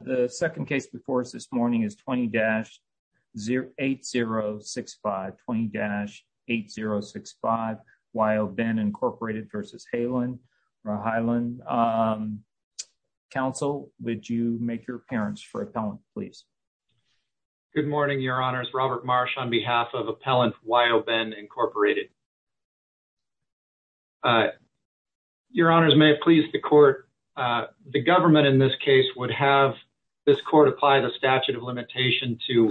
The second case before us this morning is 20-8065. 20-8065 Wyo-Ben Inc. v. Haaland. Ra-Haaland. Counsel, would you make your appearance for appellant, please? Good morning, Your Honors. Robert Marsh on behalf of Appellant Wyo-Ben Inc. Ra-Haaland. Your Honors, may it please the court, the government in this case would have this court apply the statute of limitation to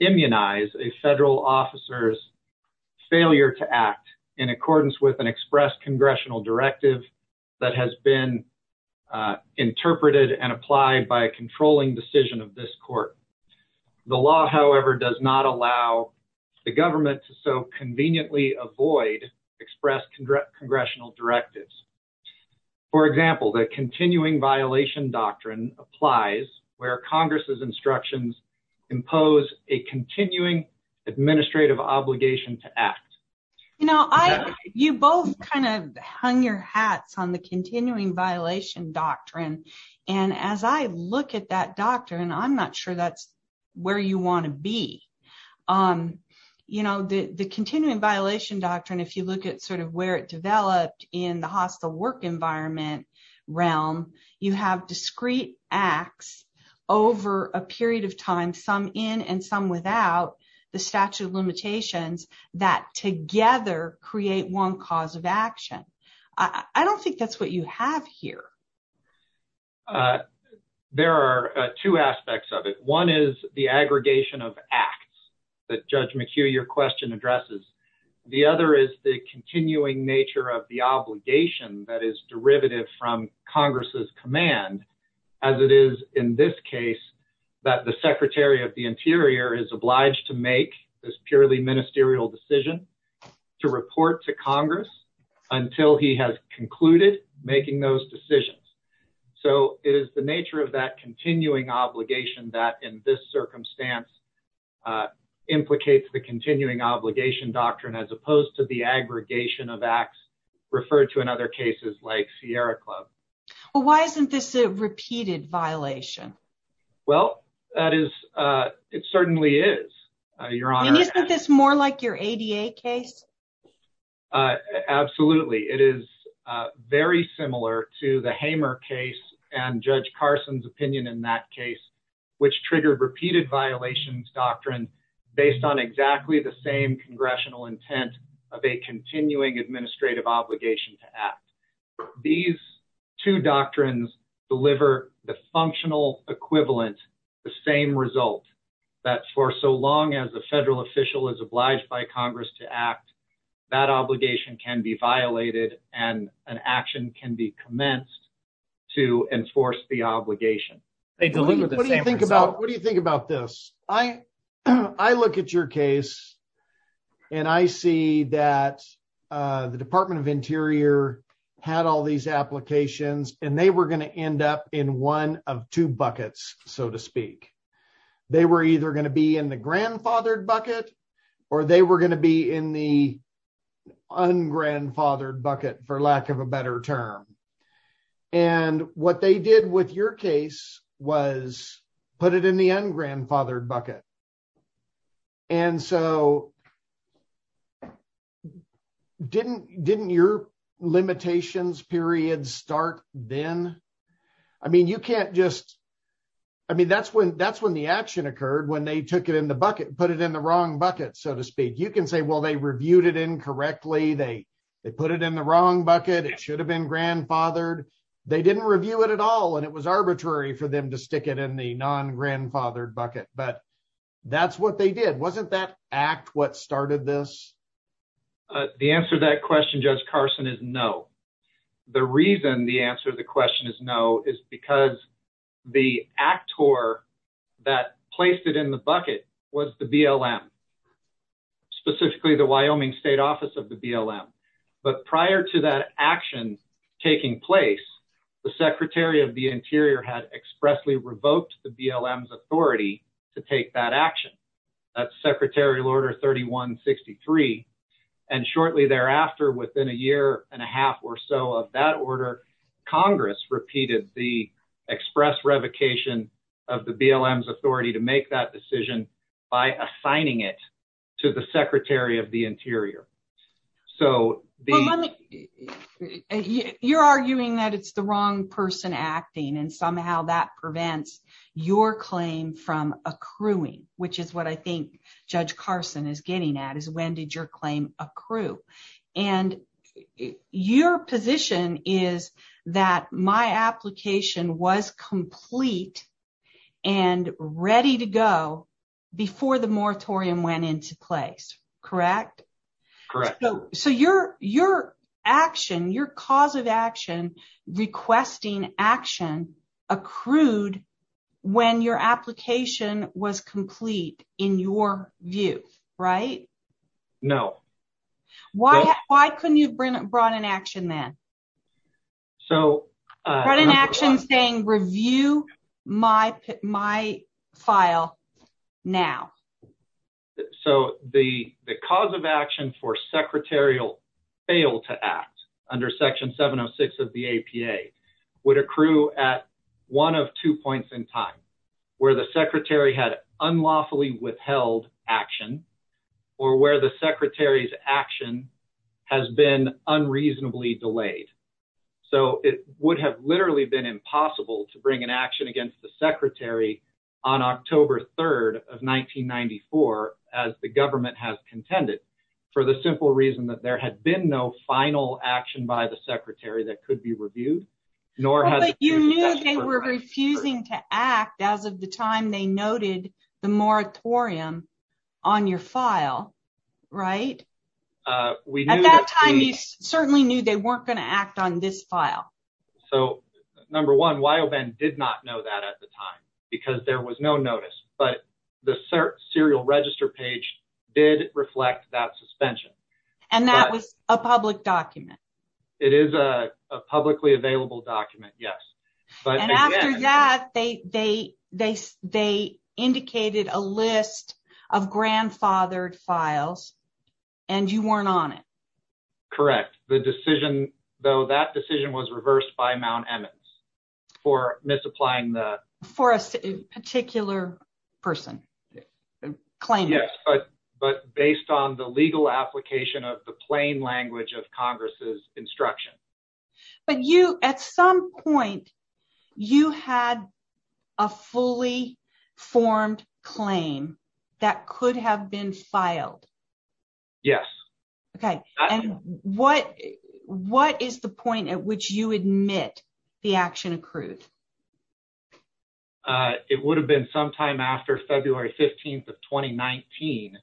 immunize a federal officer's failure to act in accordance with an expressed congressional directive that has been interpreted and applied by a controlling decision of this court. The law, however, does not allow the government to so conveniently avoid expressed congressional directives. For example, the continuing violation doctrine applies where Congress's instructions impose a continuing administrative obligation to act. You know, you both kind of hung your hats on the continuing violation doctrine. And as I look at that doctrine, I'm not sure that's where you want to be. You know, the continuing violation doctrine, if you look at sort of where it developed in the hostile work environment realm, you have discrete acts over a period of time, some in and some without, the statute of limitations that together create one cause of action. I don't think that's what you have here. Uh, there are two aspects of it. One is the aggregation of acts that Judge McHugh, your question addresses. The other is the continuing nature of the obligation that is derivative from Congress's command, as it is in this case, that the secretary of the interior is obliged to make this purely ministerial decision to report to Congress until he has concluded making those decisions. So it is the nature of that continuing obligation that in this circumstance, uh, implicates the continuing obligation doctrine as opposed to the aggregation of acts referred to in other cases like Sierra Club. Well, why isn't this a repeated violation? Well, that is, uh, it certainly is, uh, your honor. Isn't this more like your ADA case? Uh, absolutely. It is, uh, very similar to the Hamer case and Judge Carson's opinion in that case, which triggered repeated violations doctrine based on exactly the same congressional intent of a continuing administrative obligation to act. These two doctrines deliver the functional equivalent, the same result that for so long as the federal official is obliged by Congress to act, that obligation can be violated and an action can be commenced to enforce the obligation. What do you think about, what do you think about this? I, I look at your case and I see that, uh, the department of interior had all these applications and they were going to end up in one of two buckets, so to speak. They were either going to be in the grandfathered bucket or they were going to be in the ungrandfathered bucket, for lack of a better term. And what they did with your case was put it in the ungrandfathered bucket. And so didn't, didn't your limitations period start then? I mean, you can't just, I mean, that's when, that's when the action occurred, when they took it in the bucket, put it in the wrong bucket, so to speak. You can say, well, they reviewed it incorrectly. They, they put it in the wrong bucket. It should have been grandfathered. They didn't review it at all. And it was arbitrary for them to stick it in the non-grandfathered bucket, but that's what they did. Wasn't that act what started this? Uh, the answer to that question, Judge Carson is no. The reason the answer to the question is no is because the actor that placed it in the bucket was the BLM. Specifically the Wyoming state office of the BLM. But prior to that action taking place, the secretary of the interior had expressly revoked the BLM's authority to take that action. That's secretarial order 3163. And shortly thereafter, within a year and a half or so of that order, Congress repeated the express revocation of the BLM's authority to make that to the secretary of the interior. So you're arguing that it's the wrong person acting and somehow that prevents your claim from accruing, which is what I think Judge Carson is getting at is when did your claim accrue? And your position is that my application was complete and ready to before the moratorium went into place, correct? Correct. So your action, your cause of action, requesting action accrued when your application was complete in your view, right? No. Why couldn't you have brought an action then? So. Brought an action saying review my file now. So the cause of action for secretarial fail to act under section 706 of the APA would accrue at one of two points in time, where the secretary had unlawfully withheld action or where the secretary's action has been unreasonably delayed. So it would have literally been impossible to bring an action against the secretary on October 3rd of 1994, as the government has contended for the simple reason that there had been no final action by the secretary that could be reviewed, nor has. You knew they were refusing to act as of the time they noted the moratorium on your file, right? At that time, you certainly knew they weren't going to act on this file. So number one, YOBEN did not know that at the time because there was no notice, but the serial register page did reflect that suspension. And that was a public document. It is a publicly available document, yes. And after that, they indicated a list of grandfathered and you weren't on it. Correct. The decision, though, that decision was reversed by Mount Emmons for misapplying the... For a particular person, claimant. Yes, but based on the legal application of the plain language of Congress's instruction. But you, at some point, you had a fully formed claim that could have been filed. Yes. Okay. And what is the point at which you admit the action accrued? It would have been sometime after February 15th of 2019,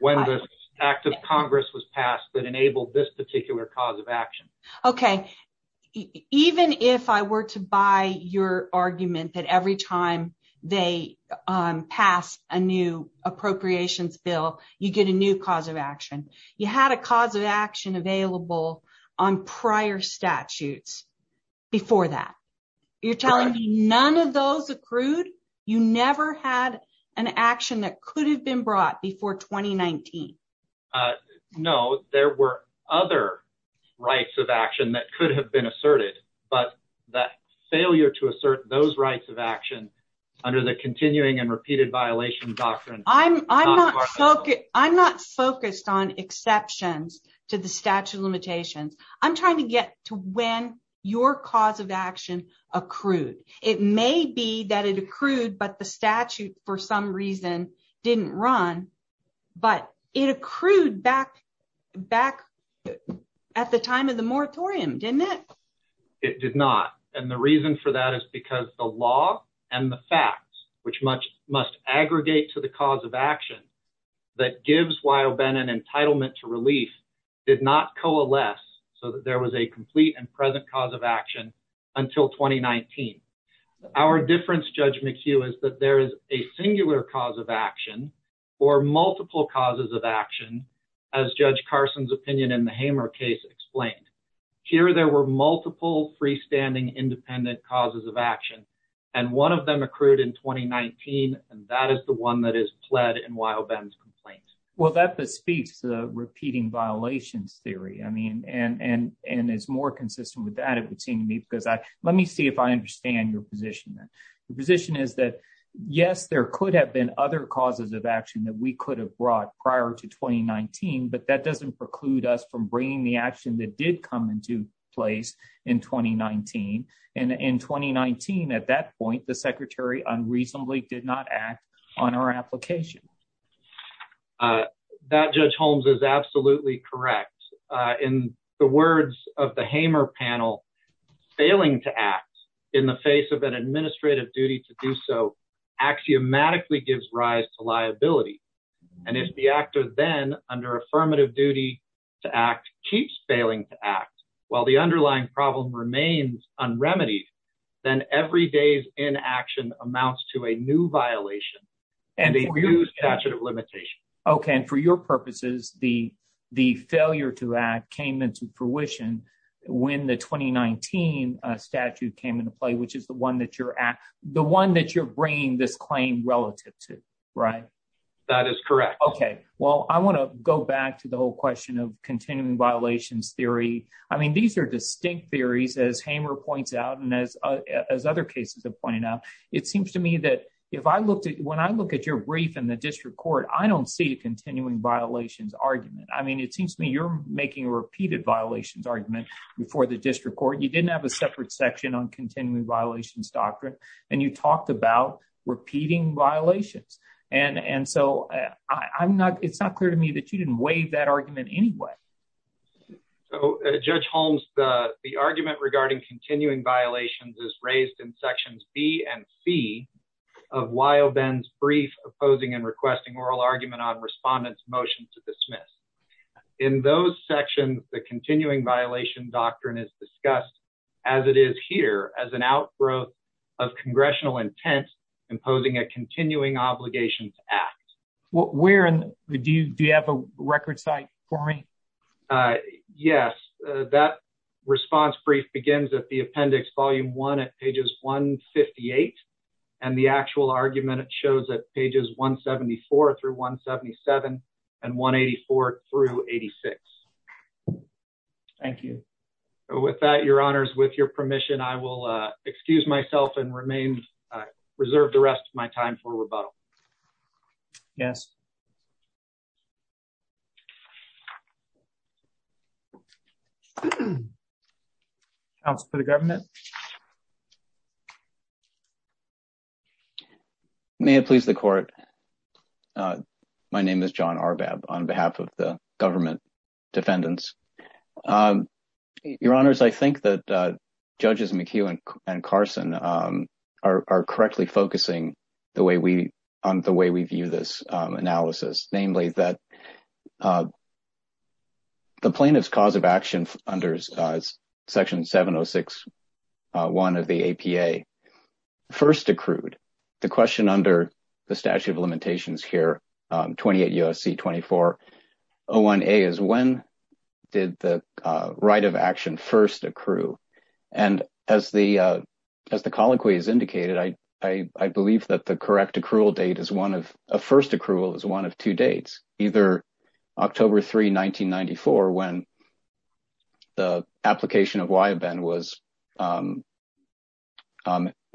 when the act of Congress was approved. Even if I were to buy your argument that every time they pass a new appropriations bill, you get a new cause of action. You had a cause of action available on prior statutes before that. You're telling me none of those accrued? You never had an action that could have been brought before 2019? No, there were other rights of action that could have been asserted, but that failure to assert those rights of action under the continuing and repeated violation doctrine... I'm not focused on exceptions to the statute limitations. I'm trying to get to when your cause of action accrued. It may be that it accrued, but the statute, for some reason, didn't run. But it accrued back at the time of the moratorium, didn't it? It did not. And the reason for that is because the law and the facts, which must aggregate to the cause of action, that gives Wyoben an entitlement to relief, did not coalesce so that there was a complete and present cause of action until 2019. Our difference, Judge McHugh, is that there is a singular cause of action or multiple causes of action, as Judge Carson's opinion in the Hamer case explained. Here, there were multiple freestanding independent causes of action, and one of them accrued in 2019, and that is the one that is pled in Wyoben's complaint. Well, that bespeaks the repeating violations theory, and is more consistent with that, because let me see if I understand your position. The position is that, yes, there could have been other causes of action that we could have brought prior to 2019, but that doesn't preclude us from bringing the action that did come into place in 2019. And in 2019, at that point, the Secretary unreasonably did not act on our application. That, Judge Holmes, is absolutely correct. In the words of the Hamer panel, failing to act in the face of an administrative duty to do so axiomatically gives rise to liability. And if the actor then, under affirmative duty to act, keeps failing to act, while the underlying problem remains unremitied, then every day's inaction amounts to a new violation and a new statute of limitations. Okay. And for your purposes, the failure to act came into fruition when the 2019 statute came into play, which is the one that you're bringing this claim relative to, right? That is correct. Okay. Well, I want to go back to the whole question of continuing violations theory. I mean, these are distinct theories, as Hamer points out, and as other cases have pointed out. It seems to me that when I look at your brief in the district court, I don't see a continuing violations argument. I mean, it seems to me you're making a repeated violations argument before the district court. You didn't have a separate section on continuing violations doctrine, and you talked about repeating violations. And so, it's not clear to me that you didn't waive that argument anyway. So, Judge Holmes, the argument regarding continuing violations is raised in sections B and C of Weill-Benz brief opposing and requesting oral argument on respondent's motion to dismiss. In those sections, the continuing violation doctrine is discussed, as it is here, as an outgrowth of congressional intent imposing a continuing obligations act. Do you have a record site for me? Yes. That response brief begins at the appendix volume one at pages 158, and the actual argument shows at pages 174 through 177 and 184 through 86. Thank you. With that, Your Honors, with your permission, I will excuse myself and reserve the rest of my time for rebuttal. Yes. Counsel for the government. May it please the court. My name is John Arbab on behalf of the government defendants. Your Honors, I think that Judges McHugh and Carson are correctly focusing on the way we view this case. The plaintiff's cause of action under section 706.1 of the APA first accrued. The question under the statute of limitations here, 28 U.S.C. 24.01a, is when did the right of action first accrue? And as the colloquy has indicated, I believe that the correct accrual date is one of first accrual is one of two dates, either October 3, 1994, when the application of YBEN was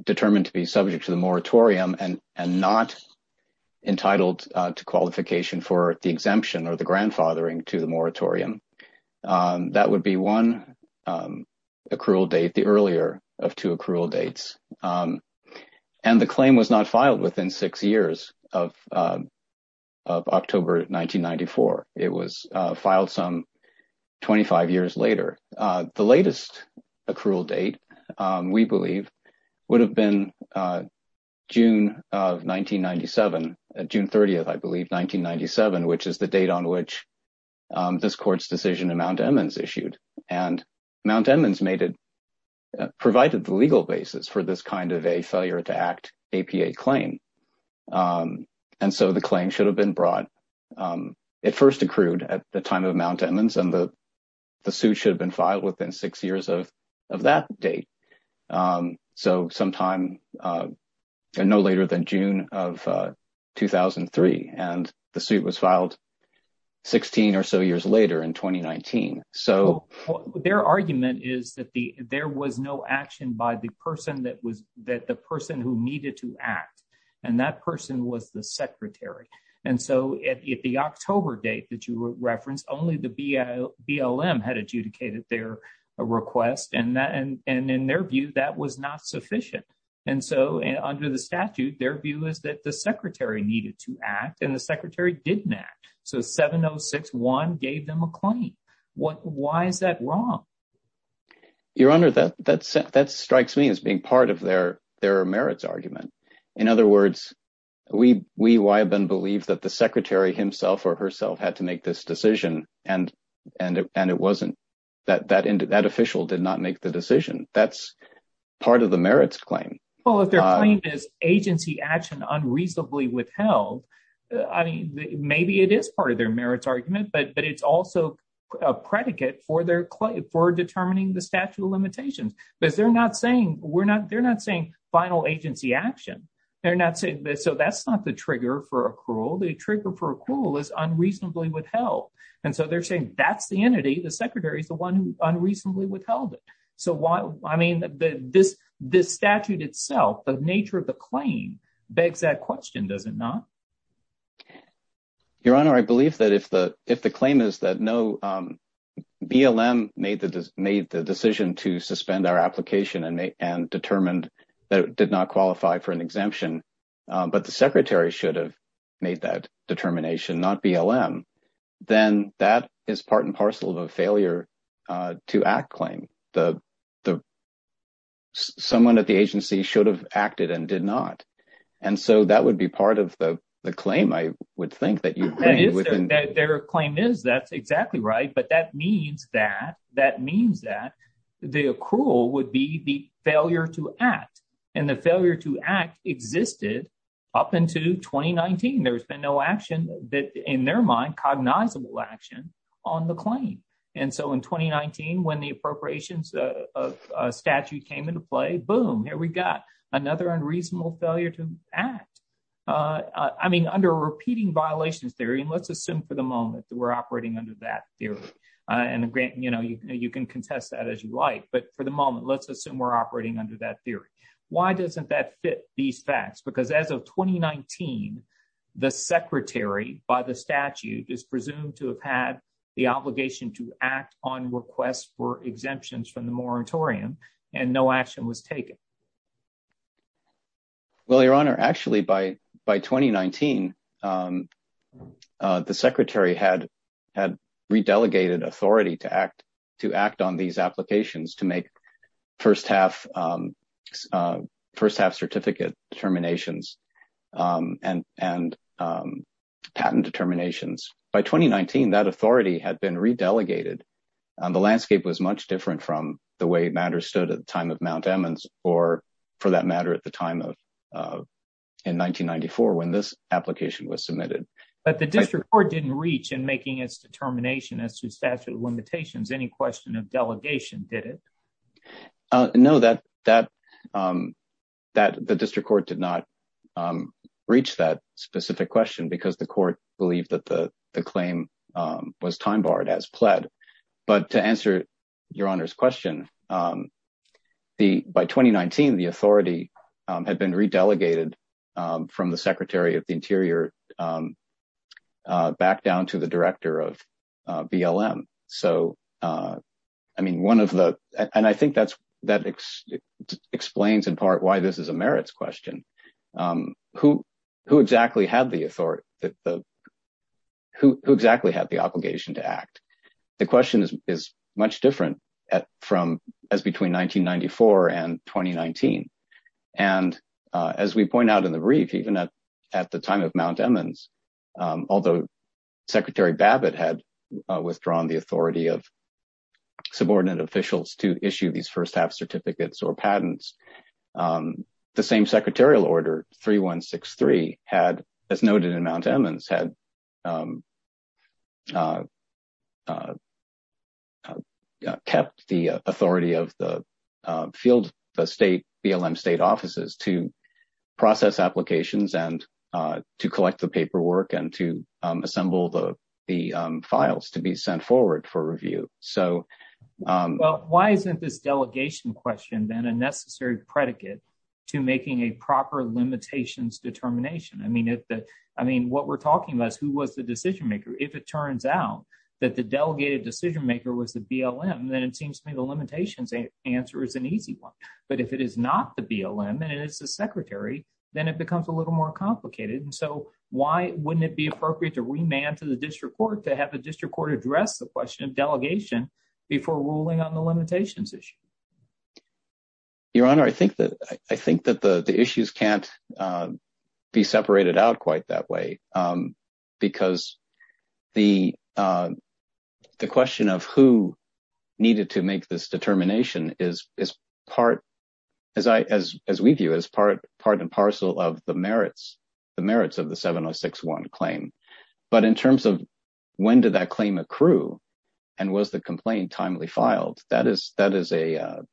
determined to be subject to the moratorium and not entitled to qualification for the exemption or the grandfathering to the moratorium. That would be one accrual date, the earlier of two dates. And the claim was not filed within six years of October 1994. It was filed some 25 years later. The latest accrual date, we believe, would have been June of 1997, June 30th, I believe, 1997, which is the date on which this court's decision in Mount Edmonds issued. And Mount Edmonds is the legal basis for this kind of a failure to act APA claim. And so the claim should have been brought. It first accrued at the time of Mount Edmonds and the suit should have been filed within six years of that date. So sometime no later than June of 2003. And the suit was filed 16 or so years later in 2019. So their argument is that the there was no action by the person that was that the person who needed to act and that person was the secretary. And so at the October date that you referenced, only the BLM had adjudicated their request. And that and in their view, that was not sufficient. And so under the statute, their view is that the secretary needed to act and the secretary didn't act. So 7061 gave them a claim. Why is that wrong? Your Honor, that strikes me as being part of their merits argument. In other words, we have been believed that the secretary himself or herself had to make this decision. And it wasn't that that official did not make the decision. That's part of the merits claim. Well, if their claim is agency action unreasonably withheld, I mean, maybe it is part of their merits argument, but it's also a predicate for their claim for determining the statute of limitations, because they're not saying we're not they're not saying final agency action. They're not saying that. So that's not the trigger for accrual. The trigger for accrual is unreasonably withheld. And so they're saying that's the entity, the secretary is the one who unreasonably withheld it. So why? I mean, this this statute itself, the nature of the claim begs that question, does it not? Your Honor, I believe that if the if the claim is that no BLM made the decision to suspend our application and determined that it did not qualify for an exemption, but the secretary should have made that determination, not BLM, then that is part and parcel of a failure to act claim. The someone at the agency should have acted and did not. And so that would be part of the claim, I would think, that you would. Their claim is that's exactly right. But that means that that means that the accrual would be the failure to act and the failure to act existed up into twenty nineteen. There's been no action that in their mind cognizable action on the claim. And so in twenty nineteen, when the appropriations of statute came into play, boom, here we got another unreasonable failure to act. I mean, under a repeating violations theory, let's assume for the moment that we're operating under that theory and you can contest that as you like. But for the moment, let's assume we're operating under that theory. Why doesn't that these facts? Because as of twenty nineteen, the secretary by the statute is presumed to have had the obligation to act on requests for exemptions from the moratorium and no action was taken. Well, your honor, actually, by by twenty nineteen, the secretary had had redelegated authority to to act on these applications, to make first half first half certificate determinations and and patent determinations. By twenty nineteen, that authority had been redelegated. The landscape was much different from the way matters stood at the time of Mount Emmons or for that matter, at the time of in nineteen ninety four when this application was submitted. But the district court didn't reach in making its determination as to statute of limitations. Any question of delegation did it know that that that the district court did not reach that specific question because the court believed that the claim was time barred as pled. But to answer your honor's question, the by twenty nineteen, the authority had been redelegated from the secretary of the interior back down to the director of BLM. So I mean, one of the and I think that's that explains in part why this is a merits question. Who who exactly had the authority that the who exactly had the obligation to act? The question is is much different from as between nineteen ninety four and twenty nineteen. And as we point out in the brief, even at at the time of Mount Emmons, although Secretary Babbitt had withdrawn the authority of subordinate officials to issue these first half certificates or patents, the same secretarial order three one six three had, as noted in Mount Emmons, had kept the authority of the field, the state BLM state offices to process applications and to collect the paperwork and to assemble the the files to be sent forward for review. So well, why isn't this delegation question then a necessary predicate to making a proper limitations determination? I mean, I mean, what we're talking about is who was the decision maker? If it turns out that the delegated decision maker was the BLM, then it seems to me the limitations answer is an easy one. But if it is not the BLM and it's the secretary, then it becomes a little more complicated. And so why wouldn't it be appropriate to remand to the district court to have a district court address the question of delegation before ruling on the limitations issue? Your Honor, I think that I think that the issues can't be separated out quite that way because the question of who needed to make this determination is part, as we view, as part and parcel of the merits of the 706-1 claim. But in terms of when did that claim accrue and was the complaint timely filed? That is a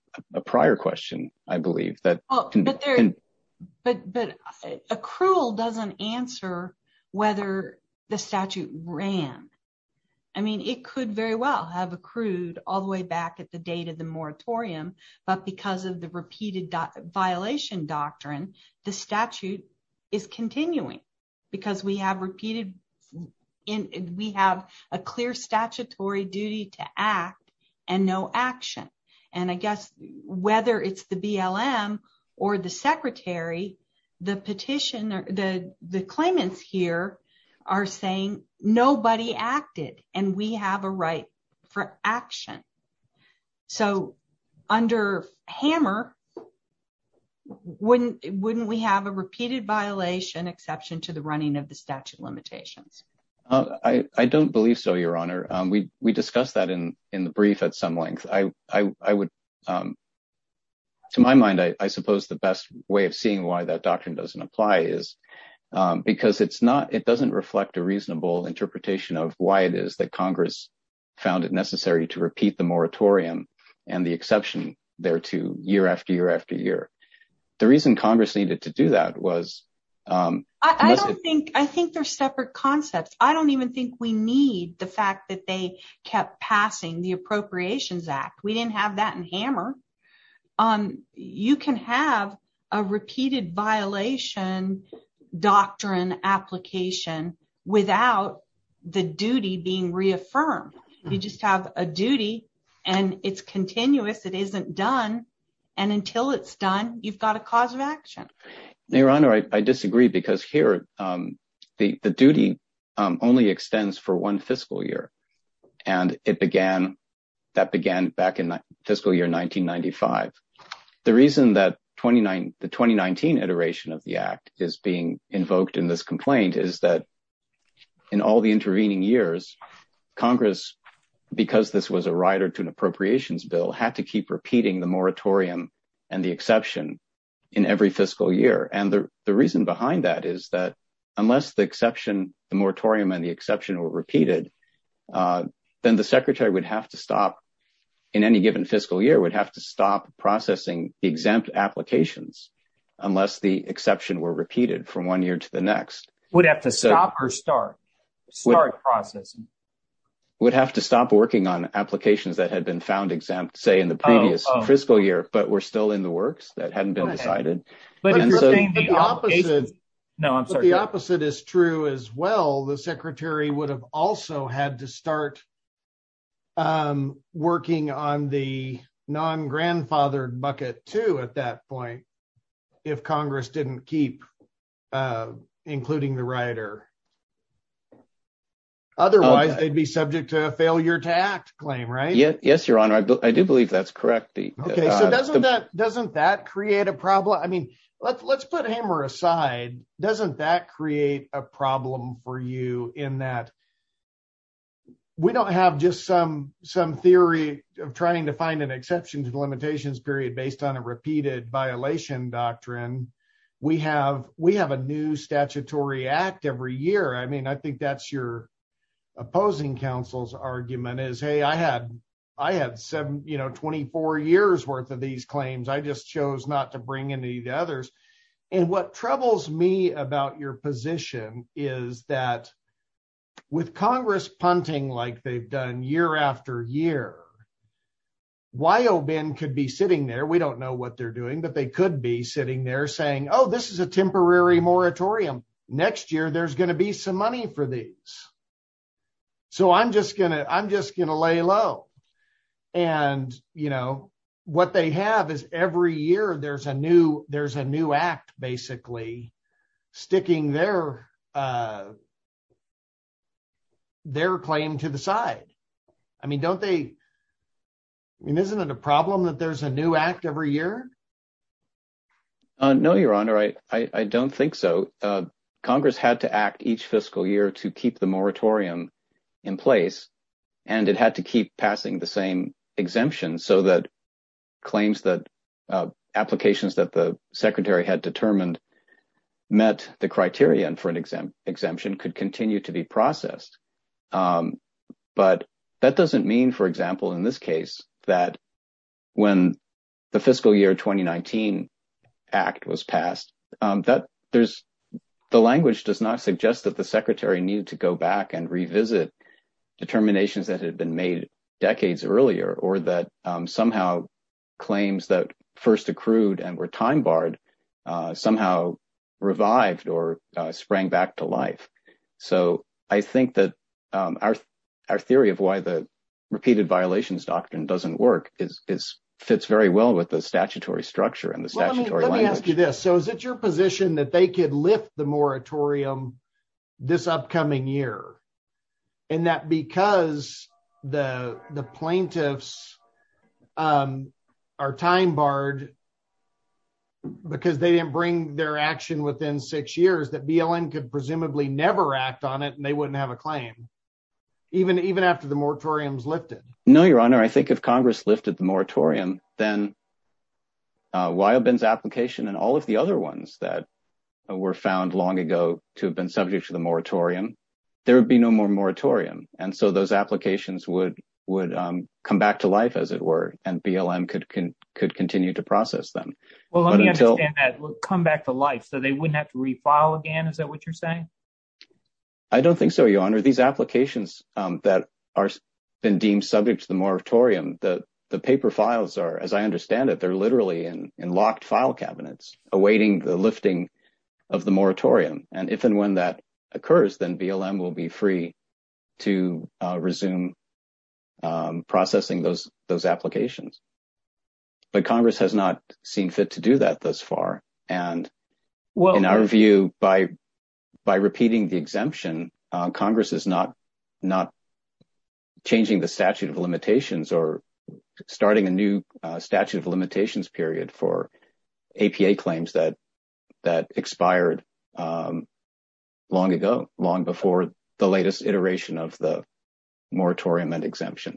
prior question, I believe. But accrual doesn't answer whether the statute ran. I mean, it could very well have accrued all the way back at the date of the moratorium. But because of the repeated violation doctrine, the statute is continuing because we have repeated and we have a clear statutory duty to act and no action. And I guess whether it's the BLM or the secretary, the petitioner, the claimants here are saying nobody acted and we have a right for action. So under Hammer, wouldn't we have a repeated violation exception to the running of the statute limitations? I don't believe so, Your Honor. We discussed that in the brief at some length. To my mind, I suppose the best way of seeing why that doctrine doesn't apply is because it doesn't reflect a reasonable interpretation of why it is that Congress found it necessary to repeat the moratorium and the exception there to year after year after year. The reason Congress needed to do that was... I think they're separate concepts. I don't even think we need the fact that they kept passing the Appropriations Act. We didn't have that in Hammer. You can have a repeated violation doctrine application without the duty being reaffirmed. You just have a duty and it's I disagree because here the duty only extends for one fiscal year. And that began back in fiscal year 1995. The reason that the 2019 iteration of the Act is being invoked in this complaint is that in all the intervening years, Congress, because this was a rider to an Appropriations Bill, had to keep repeating the moratorium and the exception in every fiscal year. And the reason behind that is that unless the exception, the moratorium and the exception were repeated, then the Secretary would have to stop, in any given fiscal year, would have to stop processing the exempt applications unless the exception were repeated from one year to the next. Would have to stop or start? Start processing. Would have to stop working on applications that had been found exempt, say in the previous fiscal year, but were still in the works that hadn't been decided. No, I'm sorry. The opposite is true as well. The Secretary would have also had to start working on the non-grandfathered bucket too at that point if Congress didn't keep including the rider. Otherwise, they'd be subject to a failure to act claim, right? Yes, Your Honor. I do believe that's correct. Doesn't that create a problem? I mean, let's put Hammer aside. Doesn't that create a problem for you in that we don't have just some theory of trying to find an exception to the limitations period based on a repeated violation doctrine? We have a new statutory act every year. I mean, I think that's your opposing counsel's argument is, hey, I had 24 years worth of these claims. I just chose not to bring any of the others. And what troubles me about your position is that with Congress punting like they've done year after year, YOBIN could be sitting there. We don't know what they're doing, but they could be sitting there saying, oh, this is a temporary moratorium. Next year, there's going to be some money for these. So I'm just going to lay low. And what they have is every year there's a new act basically sticking their claim to the side. I mean, isn't it a problem that there's a new act every year? No, Your Honor. I don't think so. Congress had to act each fiscal year to keep the moratorium in place, and it had to keep passing the same exemptions so that applications that the Secretary had determined met the criteria for an exemption could continue to be processed. But that doesn't mean, for example, in this case, that when the fiscal year 2019 act was passed, the language does not suggest that the Secretary needed to go back and first accrued and were time barred, somehow revived or sprang back to life. So I think that our theory of why the repeated violations doctrine doesn't work fits very well with the statutory structure and the statutory language. Let me ask you this. So is it your position that they could lift the moratorium this upcoming year and that because the plaintiffs are time barred, because they didn't bring their action within six years, that BLM could presumably never act on it and they wouldn't have a claim, even after the moratorium is lifted? No, Your Honor. I think if Congress lifted the moratorium, then Wyobin's application and all of the other ones that were found long ago to have been subject to the moratorium, there would be no more moratorium. And so those applications would come back to life, as it were, and BLM could continue to process them. Well, let me understand that, come back to life, so they wouldn't have to refile again. Is that what you're saying? I don't think so, Your Honor. These applications that have been deemed subject to the moratorium, the paper files are, as I understand it, they're literally in locked file cabinets awaiting the occurs, then BLM will be free to resume processing those applications. But Congress has not seen fit to do that thus far. And in our view, by repeating the exemption, Congress is not changing the statute of limitations or starting a new statute of limitations long before the latest iteration of the moratorium and exemption.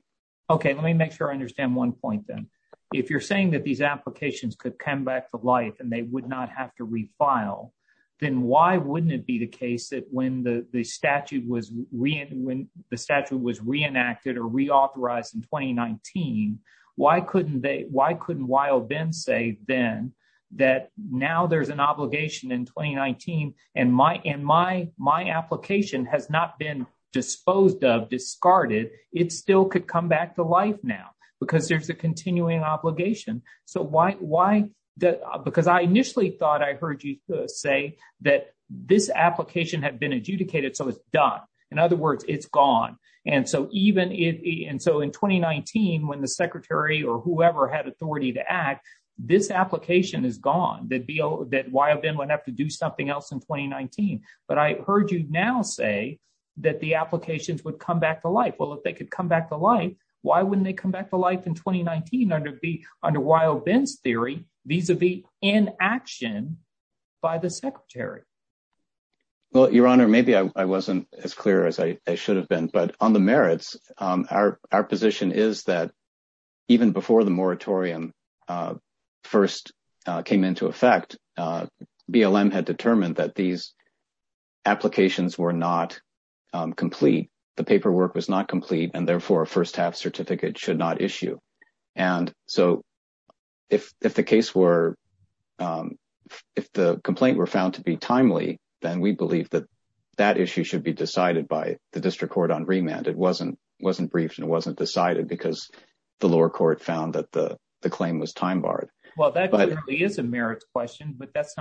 Okay, let me make sure I understand one point, then. If you're saying that these applications could come back to life and they would not have to refile, then why wouldn't it be the case that when the statute was re-enacted or reauthorized in 2019, why couldn't Wyobin say then that now there's an obligation in 2019 and my application has not been disposed of, discarded, it still could come back to life now because there's a continuing obligation. So why, because I initially thought I heard you say that this application had been adjudicated, so it's done. In other words, it's gone. And so in 2019, when the secretary or whoever had authority to act, this application is gone, that Wyobin wouldn't have to do something else in 2019. But I heard you now say that the applications would come back to life. Well, if they could come back to life, why wouldn't they come back to life in 2019 under Wyobin's theory vis-a-vis inaction by the secretary? Well, Your Honor, maybe I wasn't as clear as I should have been. But on the merits, our position is that even before the moratorium first came into effect, BLM had determined that these applications were not complete, the paperwork was not complete, and therefore, a first-half certificate should not issue. And so if the case were, if the complaint were found to be timely, then we believe that that issue should be decided by the district court on remand. It wasn't briefed and it wasn't decided because the lower court found that the claim was time barred. Well, that clearly is a merits question, but that's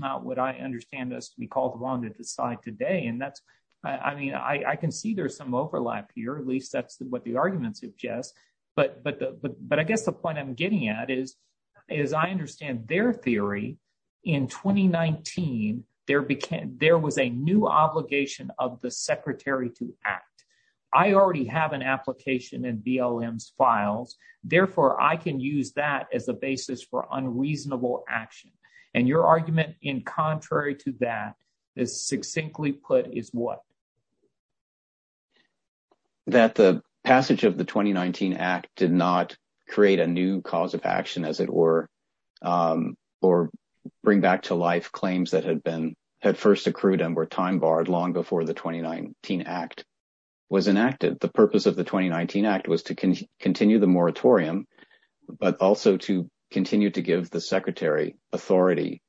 not what I understand as to be called wrong to decide today. And that's, I mean, I can see there's some overlap here, at least that's what the argument suggests. But I guess the point I'm getting at is, as I understand their theory, in 2019, there was a new obligation of the secretary to act. I already have an application in BLM's files. Therefore, I can use that as a basis for unreasonable action. And your argument in contrary to that is succinctly put is what? That the passage of the 2019 Act did not create a new cause of action, as it were, or bring back to life claims that had been, had first accrued and were time barred long before the 2019 Act was enacted. The purpose of the 2019 Act was to continue the moratorium, but also to continue to give the secretary authority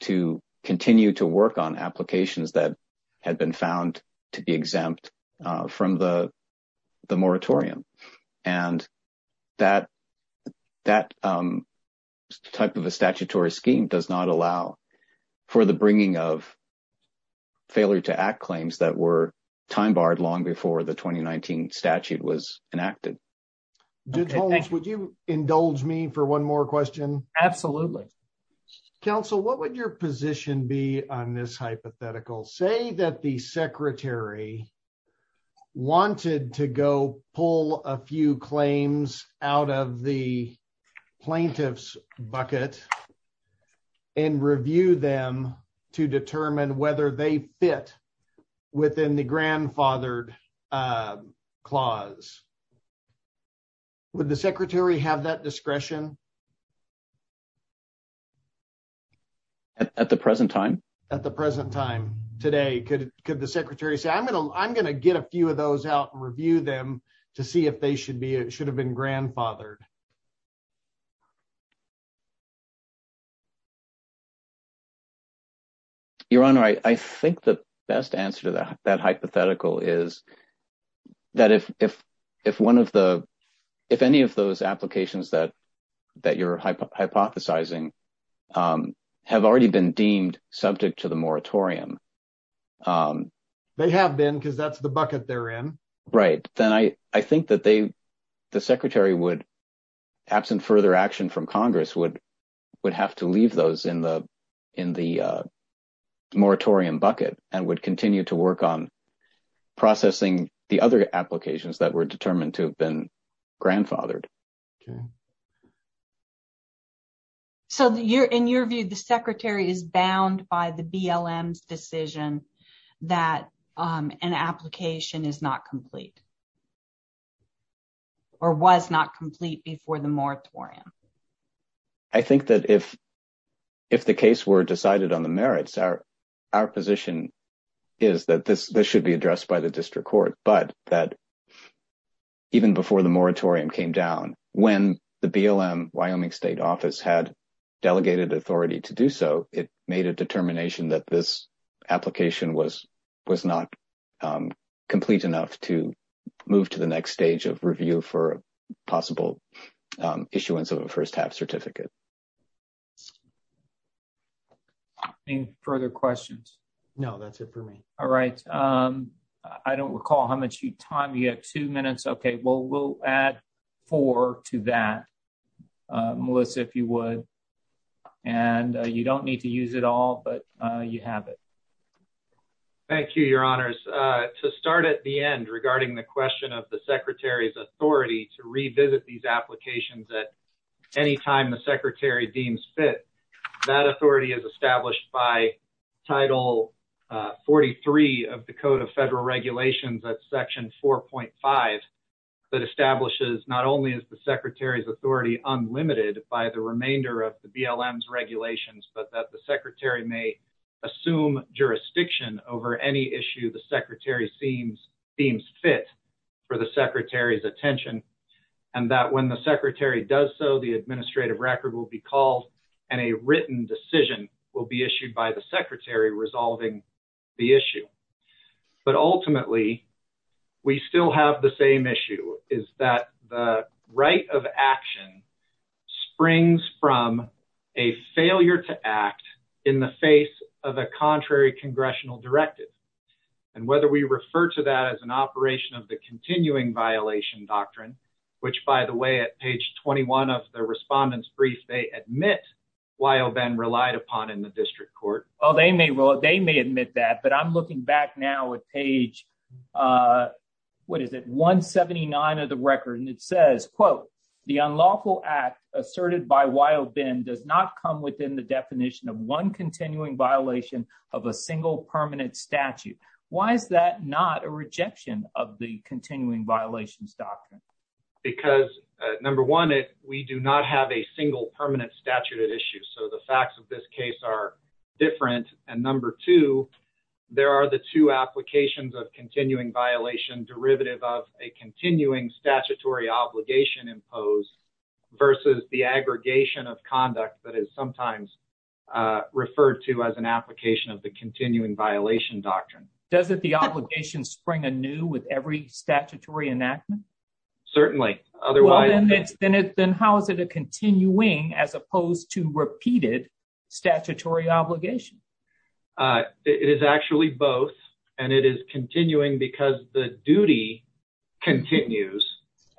to continue to work on applications that had been found to be exempt from the moratorium. And that type of a statutory scheme does not allow for the bringing of failure to act claims that were time barred long before the 2019 statute was enacted. Judge Holmes, would you indulge me for one more question? Absolutely. Counsel, what would your position be on this hypothetical? Say that the secretary wanted to go pull a few claims out of the plaintiff's bucket and review them to determine whether they fit within the grandfathered clause. Would the secretary have that discretion? At the present time? At the present time today, could the secretary say, I'm going to get a few of those out and review them to see if they should have been grandfathered? Your Honor, I think the best answer to that hypothetical is that if any of those applications that you're hypothesizing have already been deemed subject to the moratorium. They have been because that's the bucket they're in. Right. Then I think that the secretary, absent further action from Congress, would have to leave those in the moratorium bucket and would continue to work on processing the other Okay. So, in your view, the secretary is bound by the BLM's decision that an application is not complete or was not complete before the moratorium? I think that if the case were decided on the merits, our position is that this should be addressed by the district court, but that even before the moratorium came down, when the BLM Wyoming State Office had delegated authority to do so, it made a determination that this application was not complete enough to move to the next stage of review for possible issuance of a first half certificate. Any further questions? No, that's it for me. All right. I don't recall how much time you have. Two minutes. Okay. Well, we'll add four to that, Melissa, if you would. And you don't need to use it all, but you have it. Thank you, your honors. To start at the end regarding the question of the secretary's authority to revisit these applications at any time the secretary deems fit, that authority is established by Title 43 of the Code of Federal Regulations at Section 4.5 that establishes not only is the secretary's authority unlimited by the remainder of the BLM's regulations, but that the secretary may assume jurisdiction over any issue the secretary seems fit for the secretary's attention, and that when the secretary does so, the administrative record will be called and a written decision will be issued by the secretary resolving the issue. But ultimately, we still have the same issue, is that the right of action springs from a failure to act in the face of a contrary congressional directive. And whether we refer to that as an operation of the continuing violation doctrine, which, by the way, at page 21 of the respondent's brief, they admit Wyoben relied upon in the district court. Well, they may admit that, but I'm looking back now at page, what is it, 179 of the record, and it says, quote, the unlawful act asserted by Wyoben does not come within the definition of one continuing violation of a single permanent statute. Why is that not a rejection of the continuing violations doctrine? Because number one, we do not have a single permanent statute at issue. So the facts of this case are different. And number two, there are the two applications of continuing violation derivative of a continuing statutory obligation imposed versus the aggregation of conduct that is sometimes referred to as an obligation spring anew with every statutory enactment? Certainly. Otherwise, then how is it a continuing as opposed to repeated statutory obligation? It is actually both. And it is continuing because the duty continues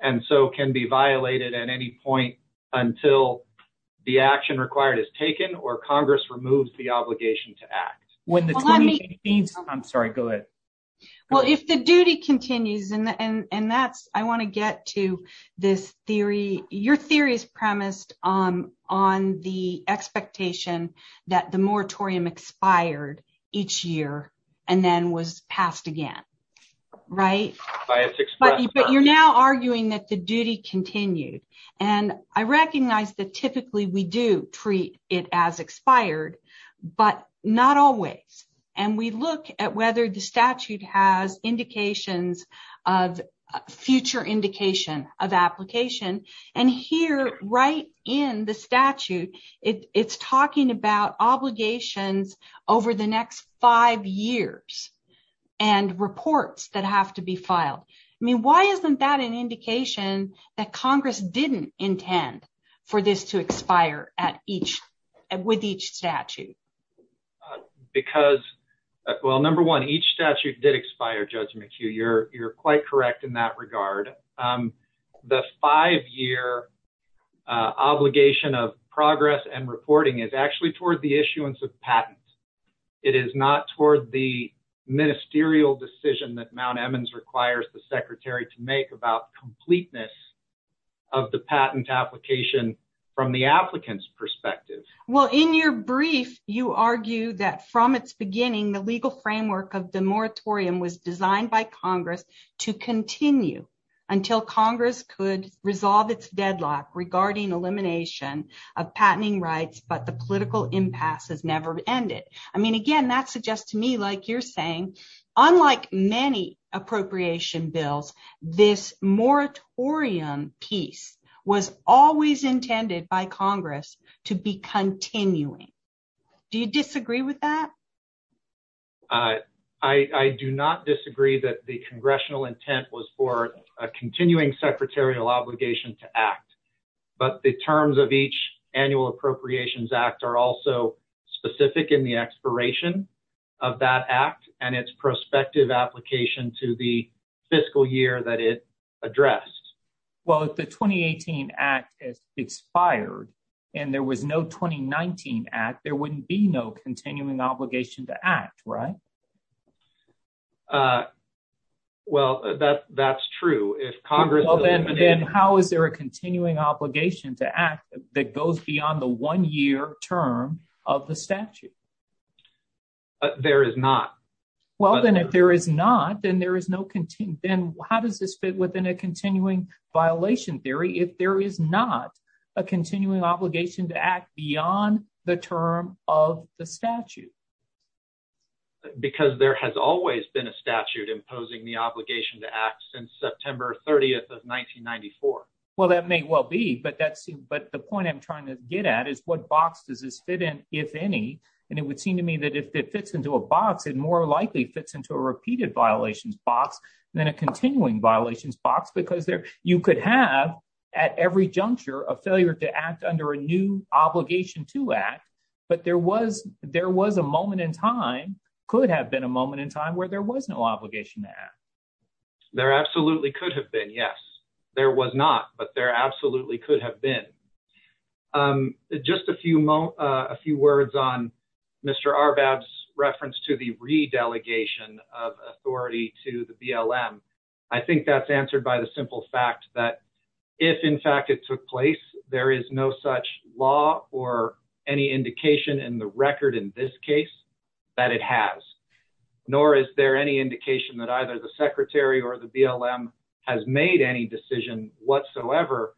and so can be violated at any point until the action required is taken or Congress removes the obligation to act. I'm sorry, go ahead. Well, if the duty continues and that's, I want to get to this theory. Your theory is premised on the expectation that the moratorium expired each year and then was passed again, right? But you're now arguing that duty continued. And I recognize that typically we do treat it as expired, but not always. And we look at whether the statute has indications of future indication of application. And here, right in the statute, it's talking about obligations over the next five years and reports that have to be filed. I mean, why isn't that an indication that Congress didn't intend for this to expire with each statute? Because, well, number one, each statute did expire, Judge McHugh. You're quite correct in that regard. The five-year obligation of progress and reporting is actually the issuance of patents. It is not toward the ministerial decision that Mount Emmons requires the secretary to make about completeness of the patent application from the applicant's perspective. Well, in your brief, you argue that from its beginning, the legal framework of the moratorium was designed by Congress to continue until Congress could resolve its deadlock regarding elimination of patenting rights, but the political impasse has never ended. I mean, again, that suggests to me, like you're saying, unlike many appropriation bills, this moratorium piece was always intended by Congress to be continuing. Do you disagree with that? I do not disagree that the congressional intent was for a continuing secretarial obligation to act, but the terms of each annual Appropriations Act are also specific in the expiration of that act and its prospective application to the fiscal year that it addressed. Well, if the 2018 Act has expired and there was no 2019 Act, there wouldn't be no continuing obligation to act, right? Well, that's true. If Congress... Well, then how is there a continuing obligation to act that goes beyond the one-year term of the statute? There is not. Well, then if there is not, then how does this fit within a continuing violation theory if there is not a continuing obligation to act beyond the term of the statute? Because there has always been a statute imposing the obligation to act since September 30th of 1994. Well, that may well be, but the point I'm trying to get at is what box does this fit in, if any, and it would seem to me that if it fits into a box, it more likely fits into a repeated violations box than a continuing violations box because you could have at every juncture a failure to act under a new obligation to act, but there was a moment in time, could have been a moment in time where there was no obligation to act. There absolutely could have been, yes. There was not, but there absolutely could have been. Just a few words on Mr. Arbab's reference to the re-delegation of authority to the BLM. I think that's answered by the simple fact that if in fact it took place, there is no such law or any indication in the record in this case that it has, nor is there any indication that either the secretary or the BLM has made any decision whatsoever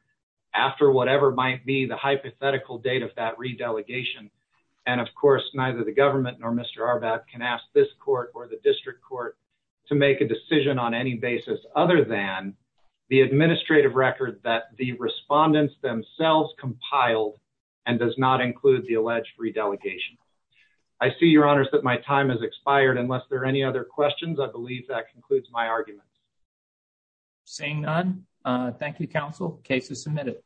after whatever might be the hypothetical date of that re-delegation, and of course, neither the government nor Mr. Arbab can ask this court or the district court to make a decision on any basis other than the administrative record that the respondents themselves compiled and does not include the alleged re-delegation. I see, your honors, that my time has expired. Unless there are any other questions, I believe that concludes my arguments. Seeing none, thank you, counsel. Case is submitted.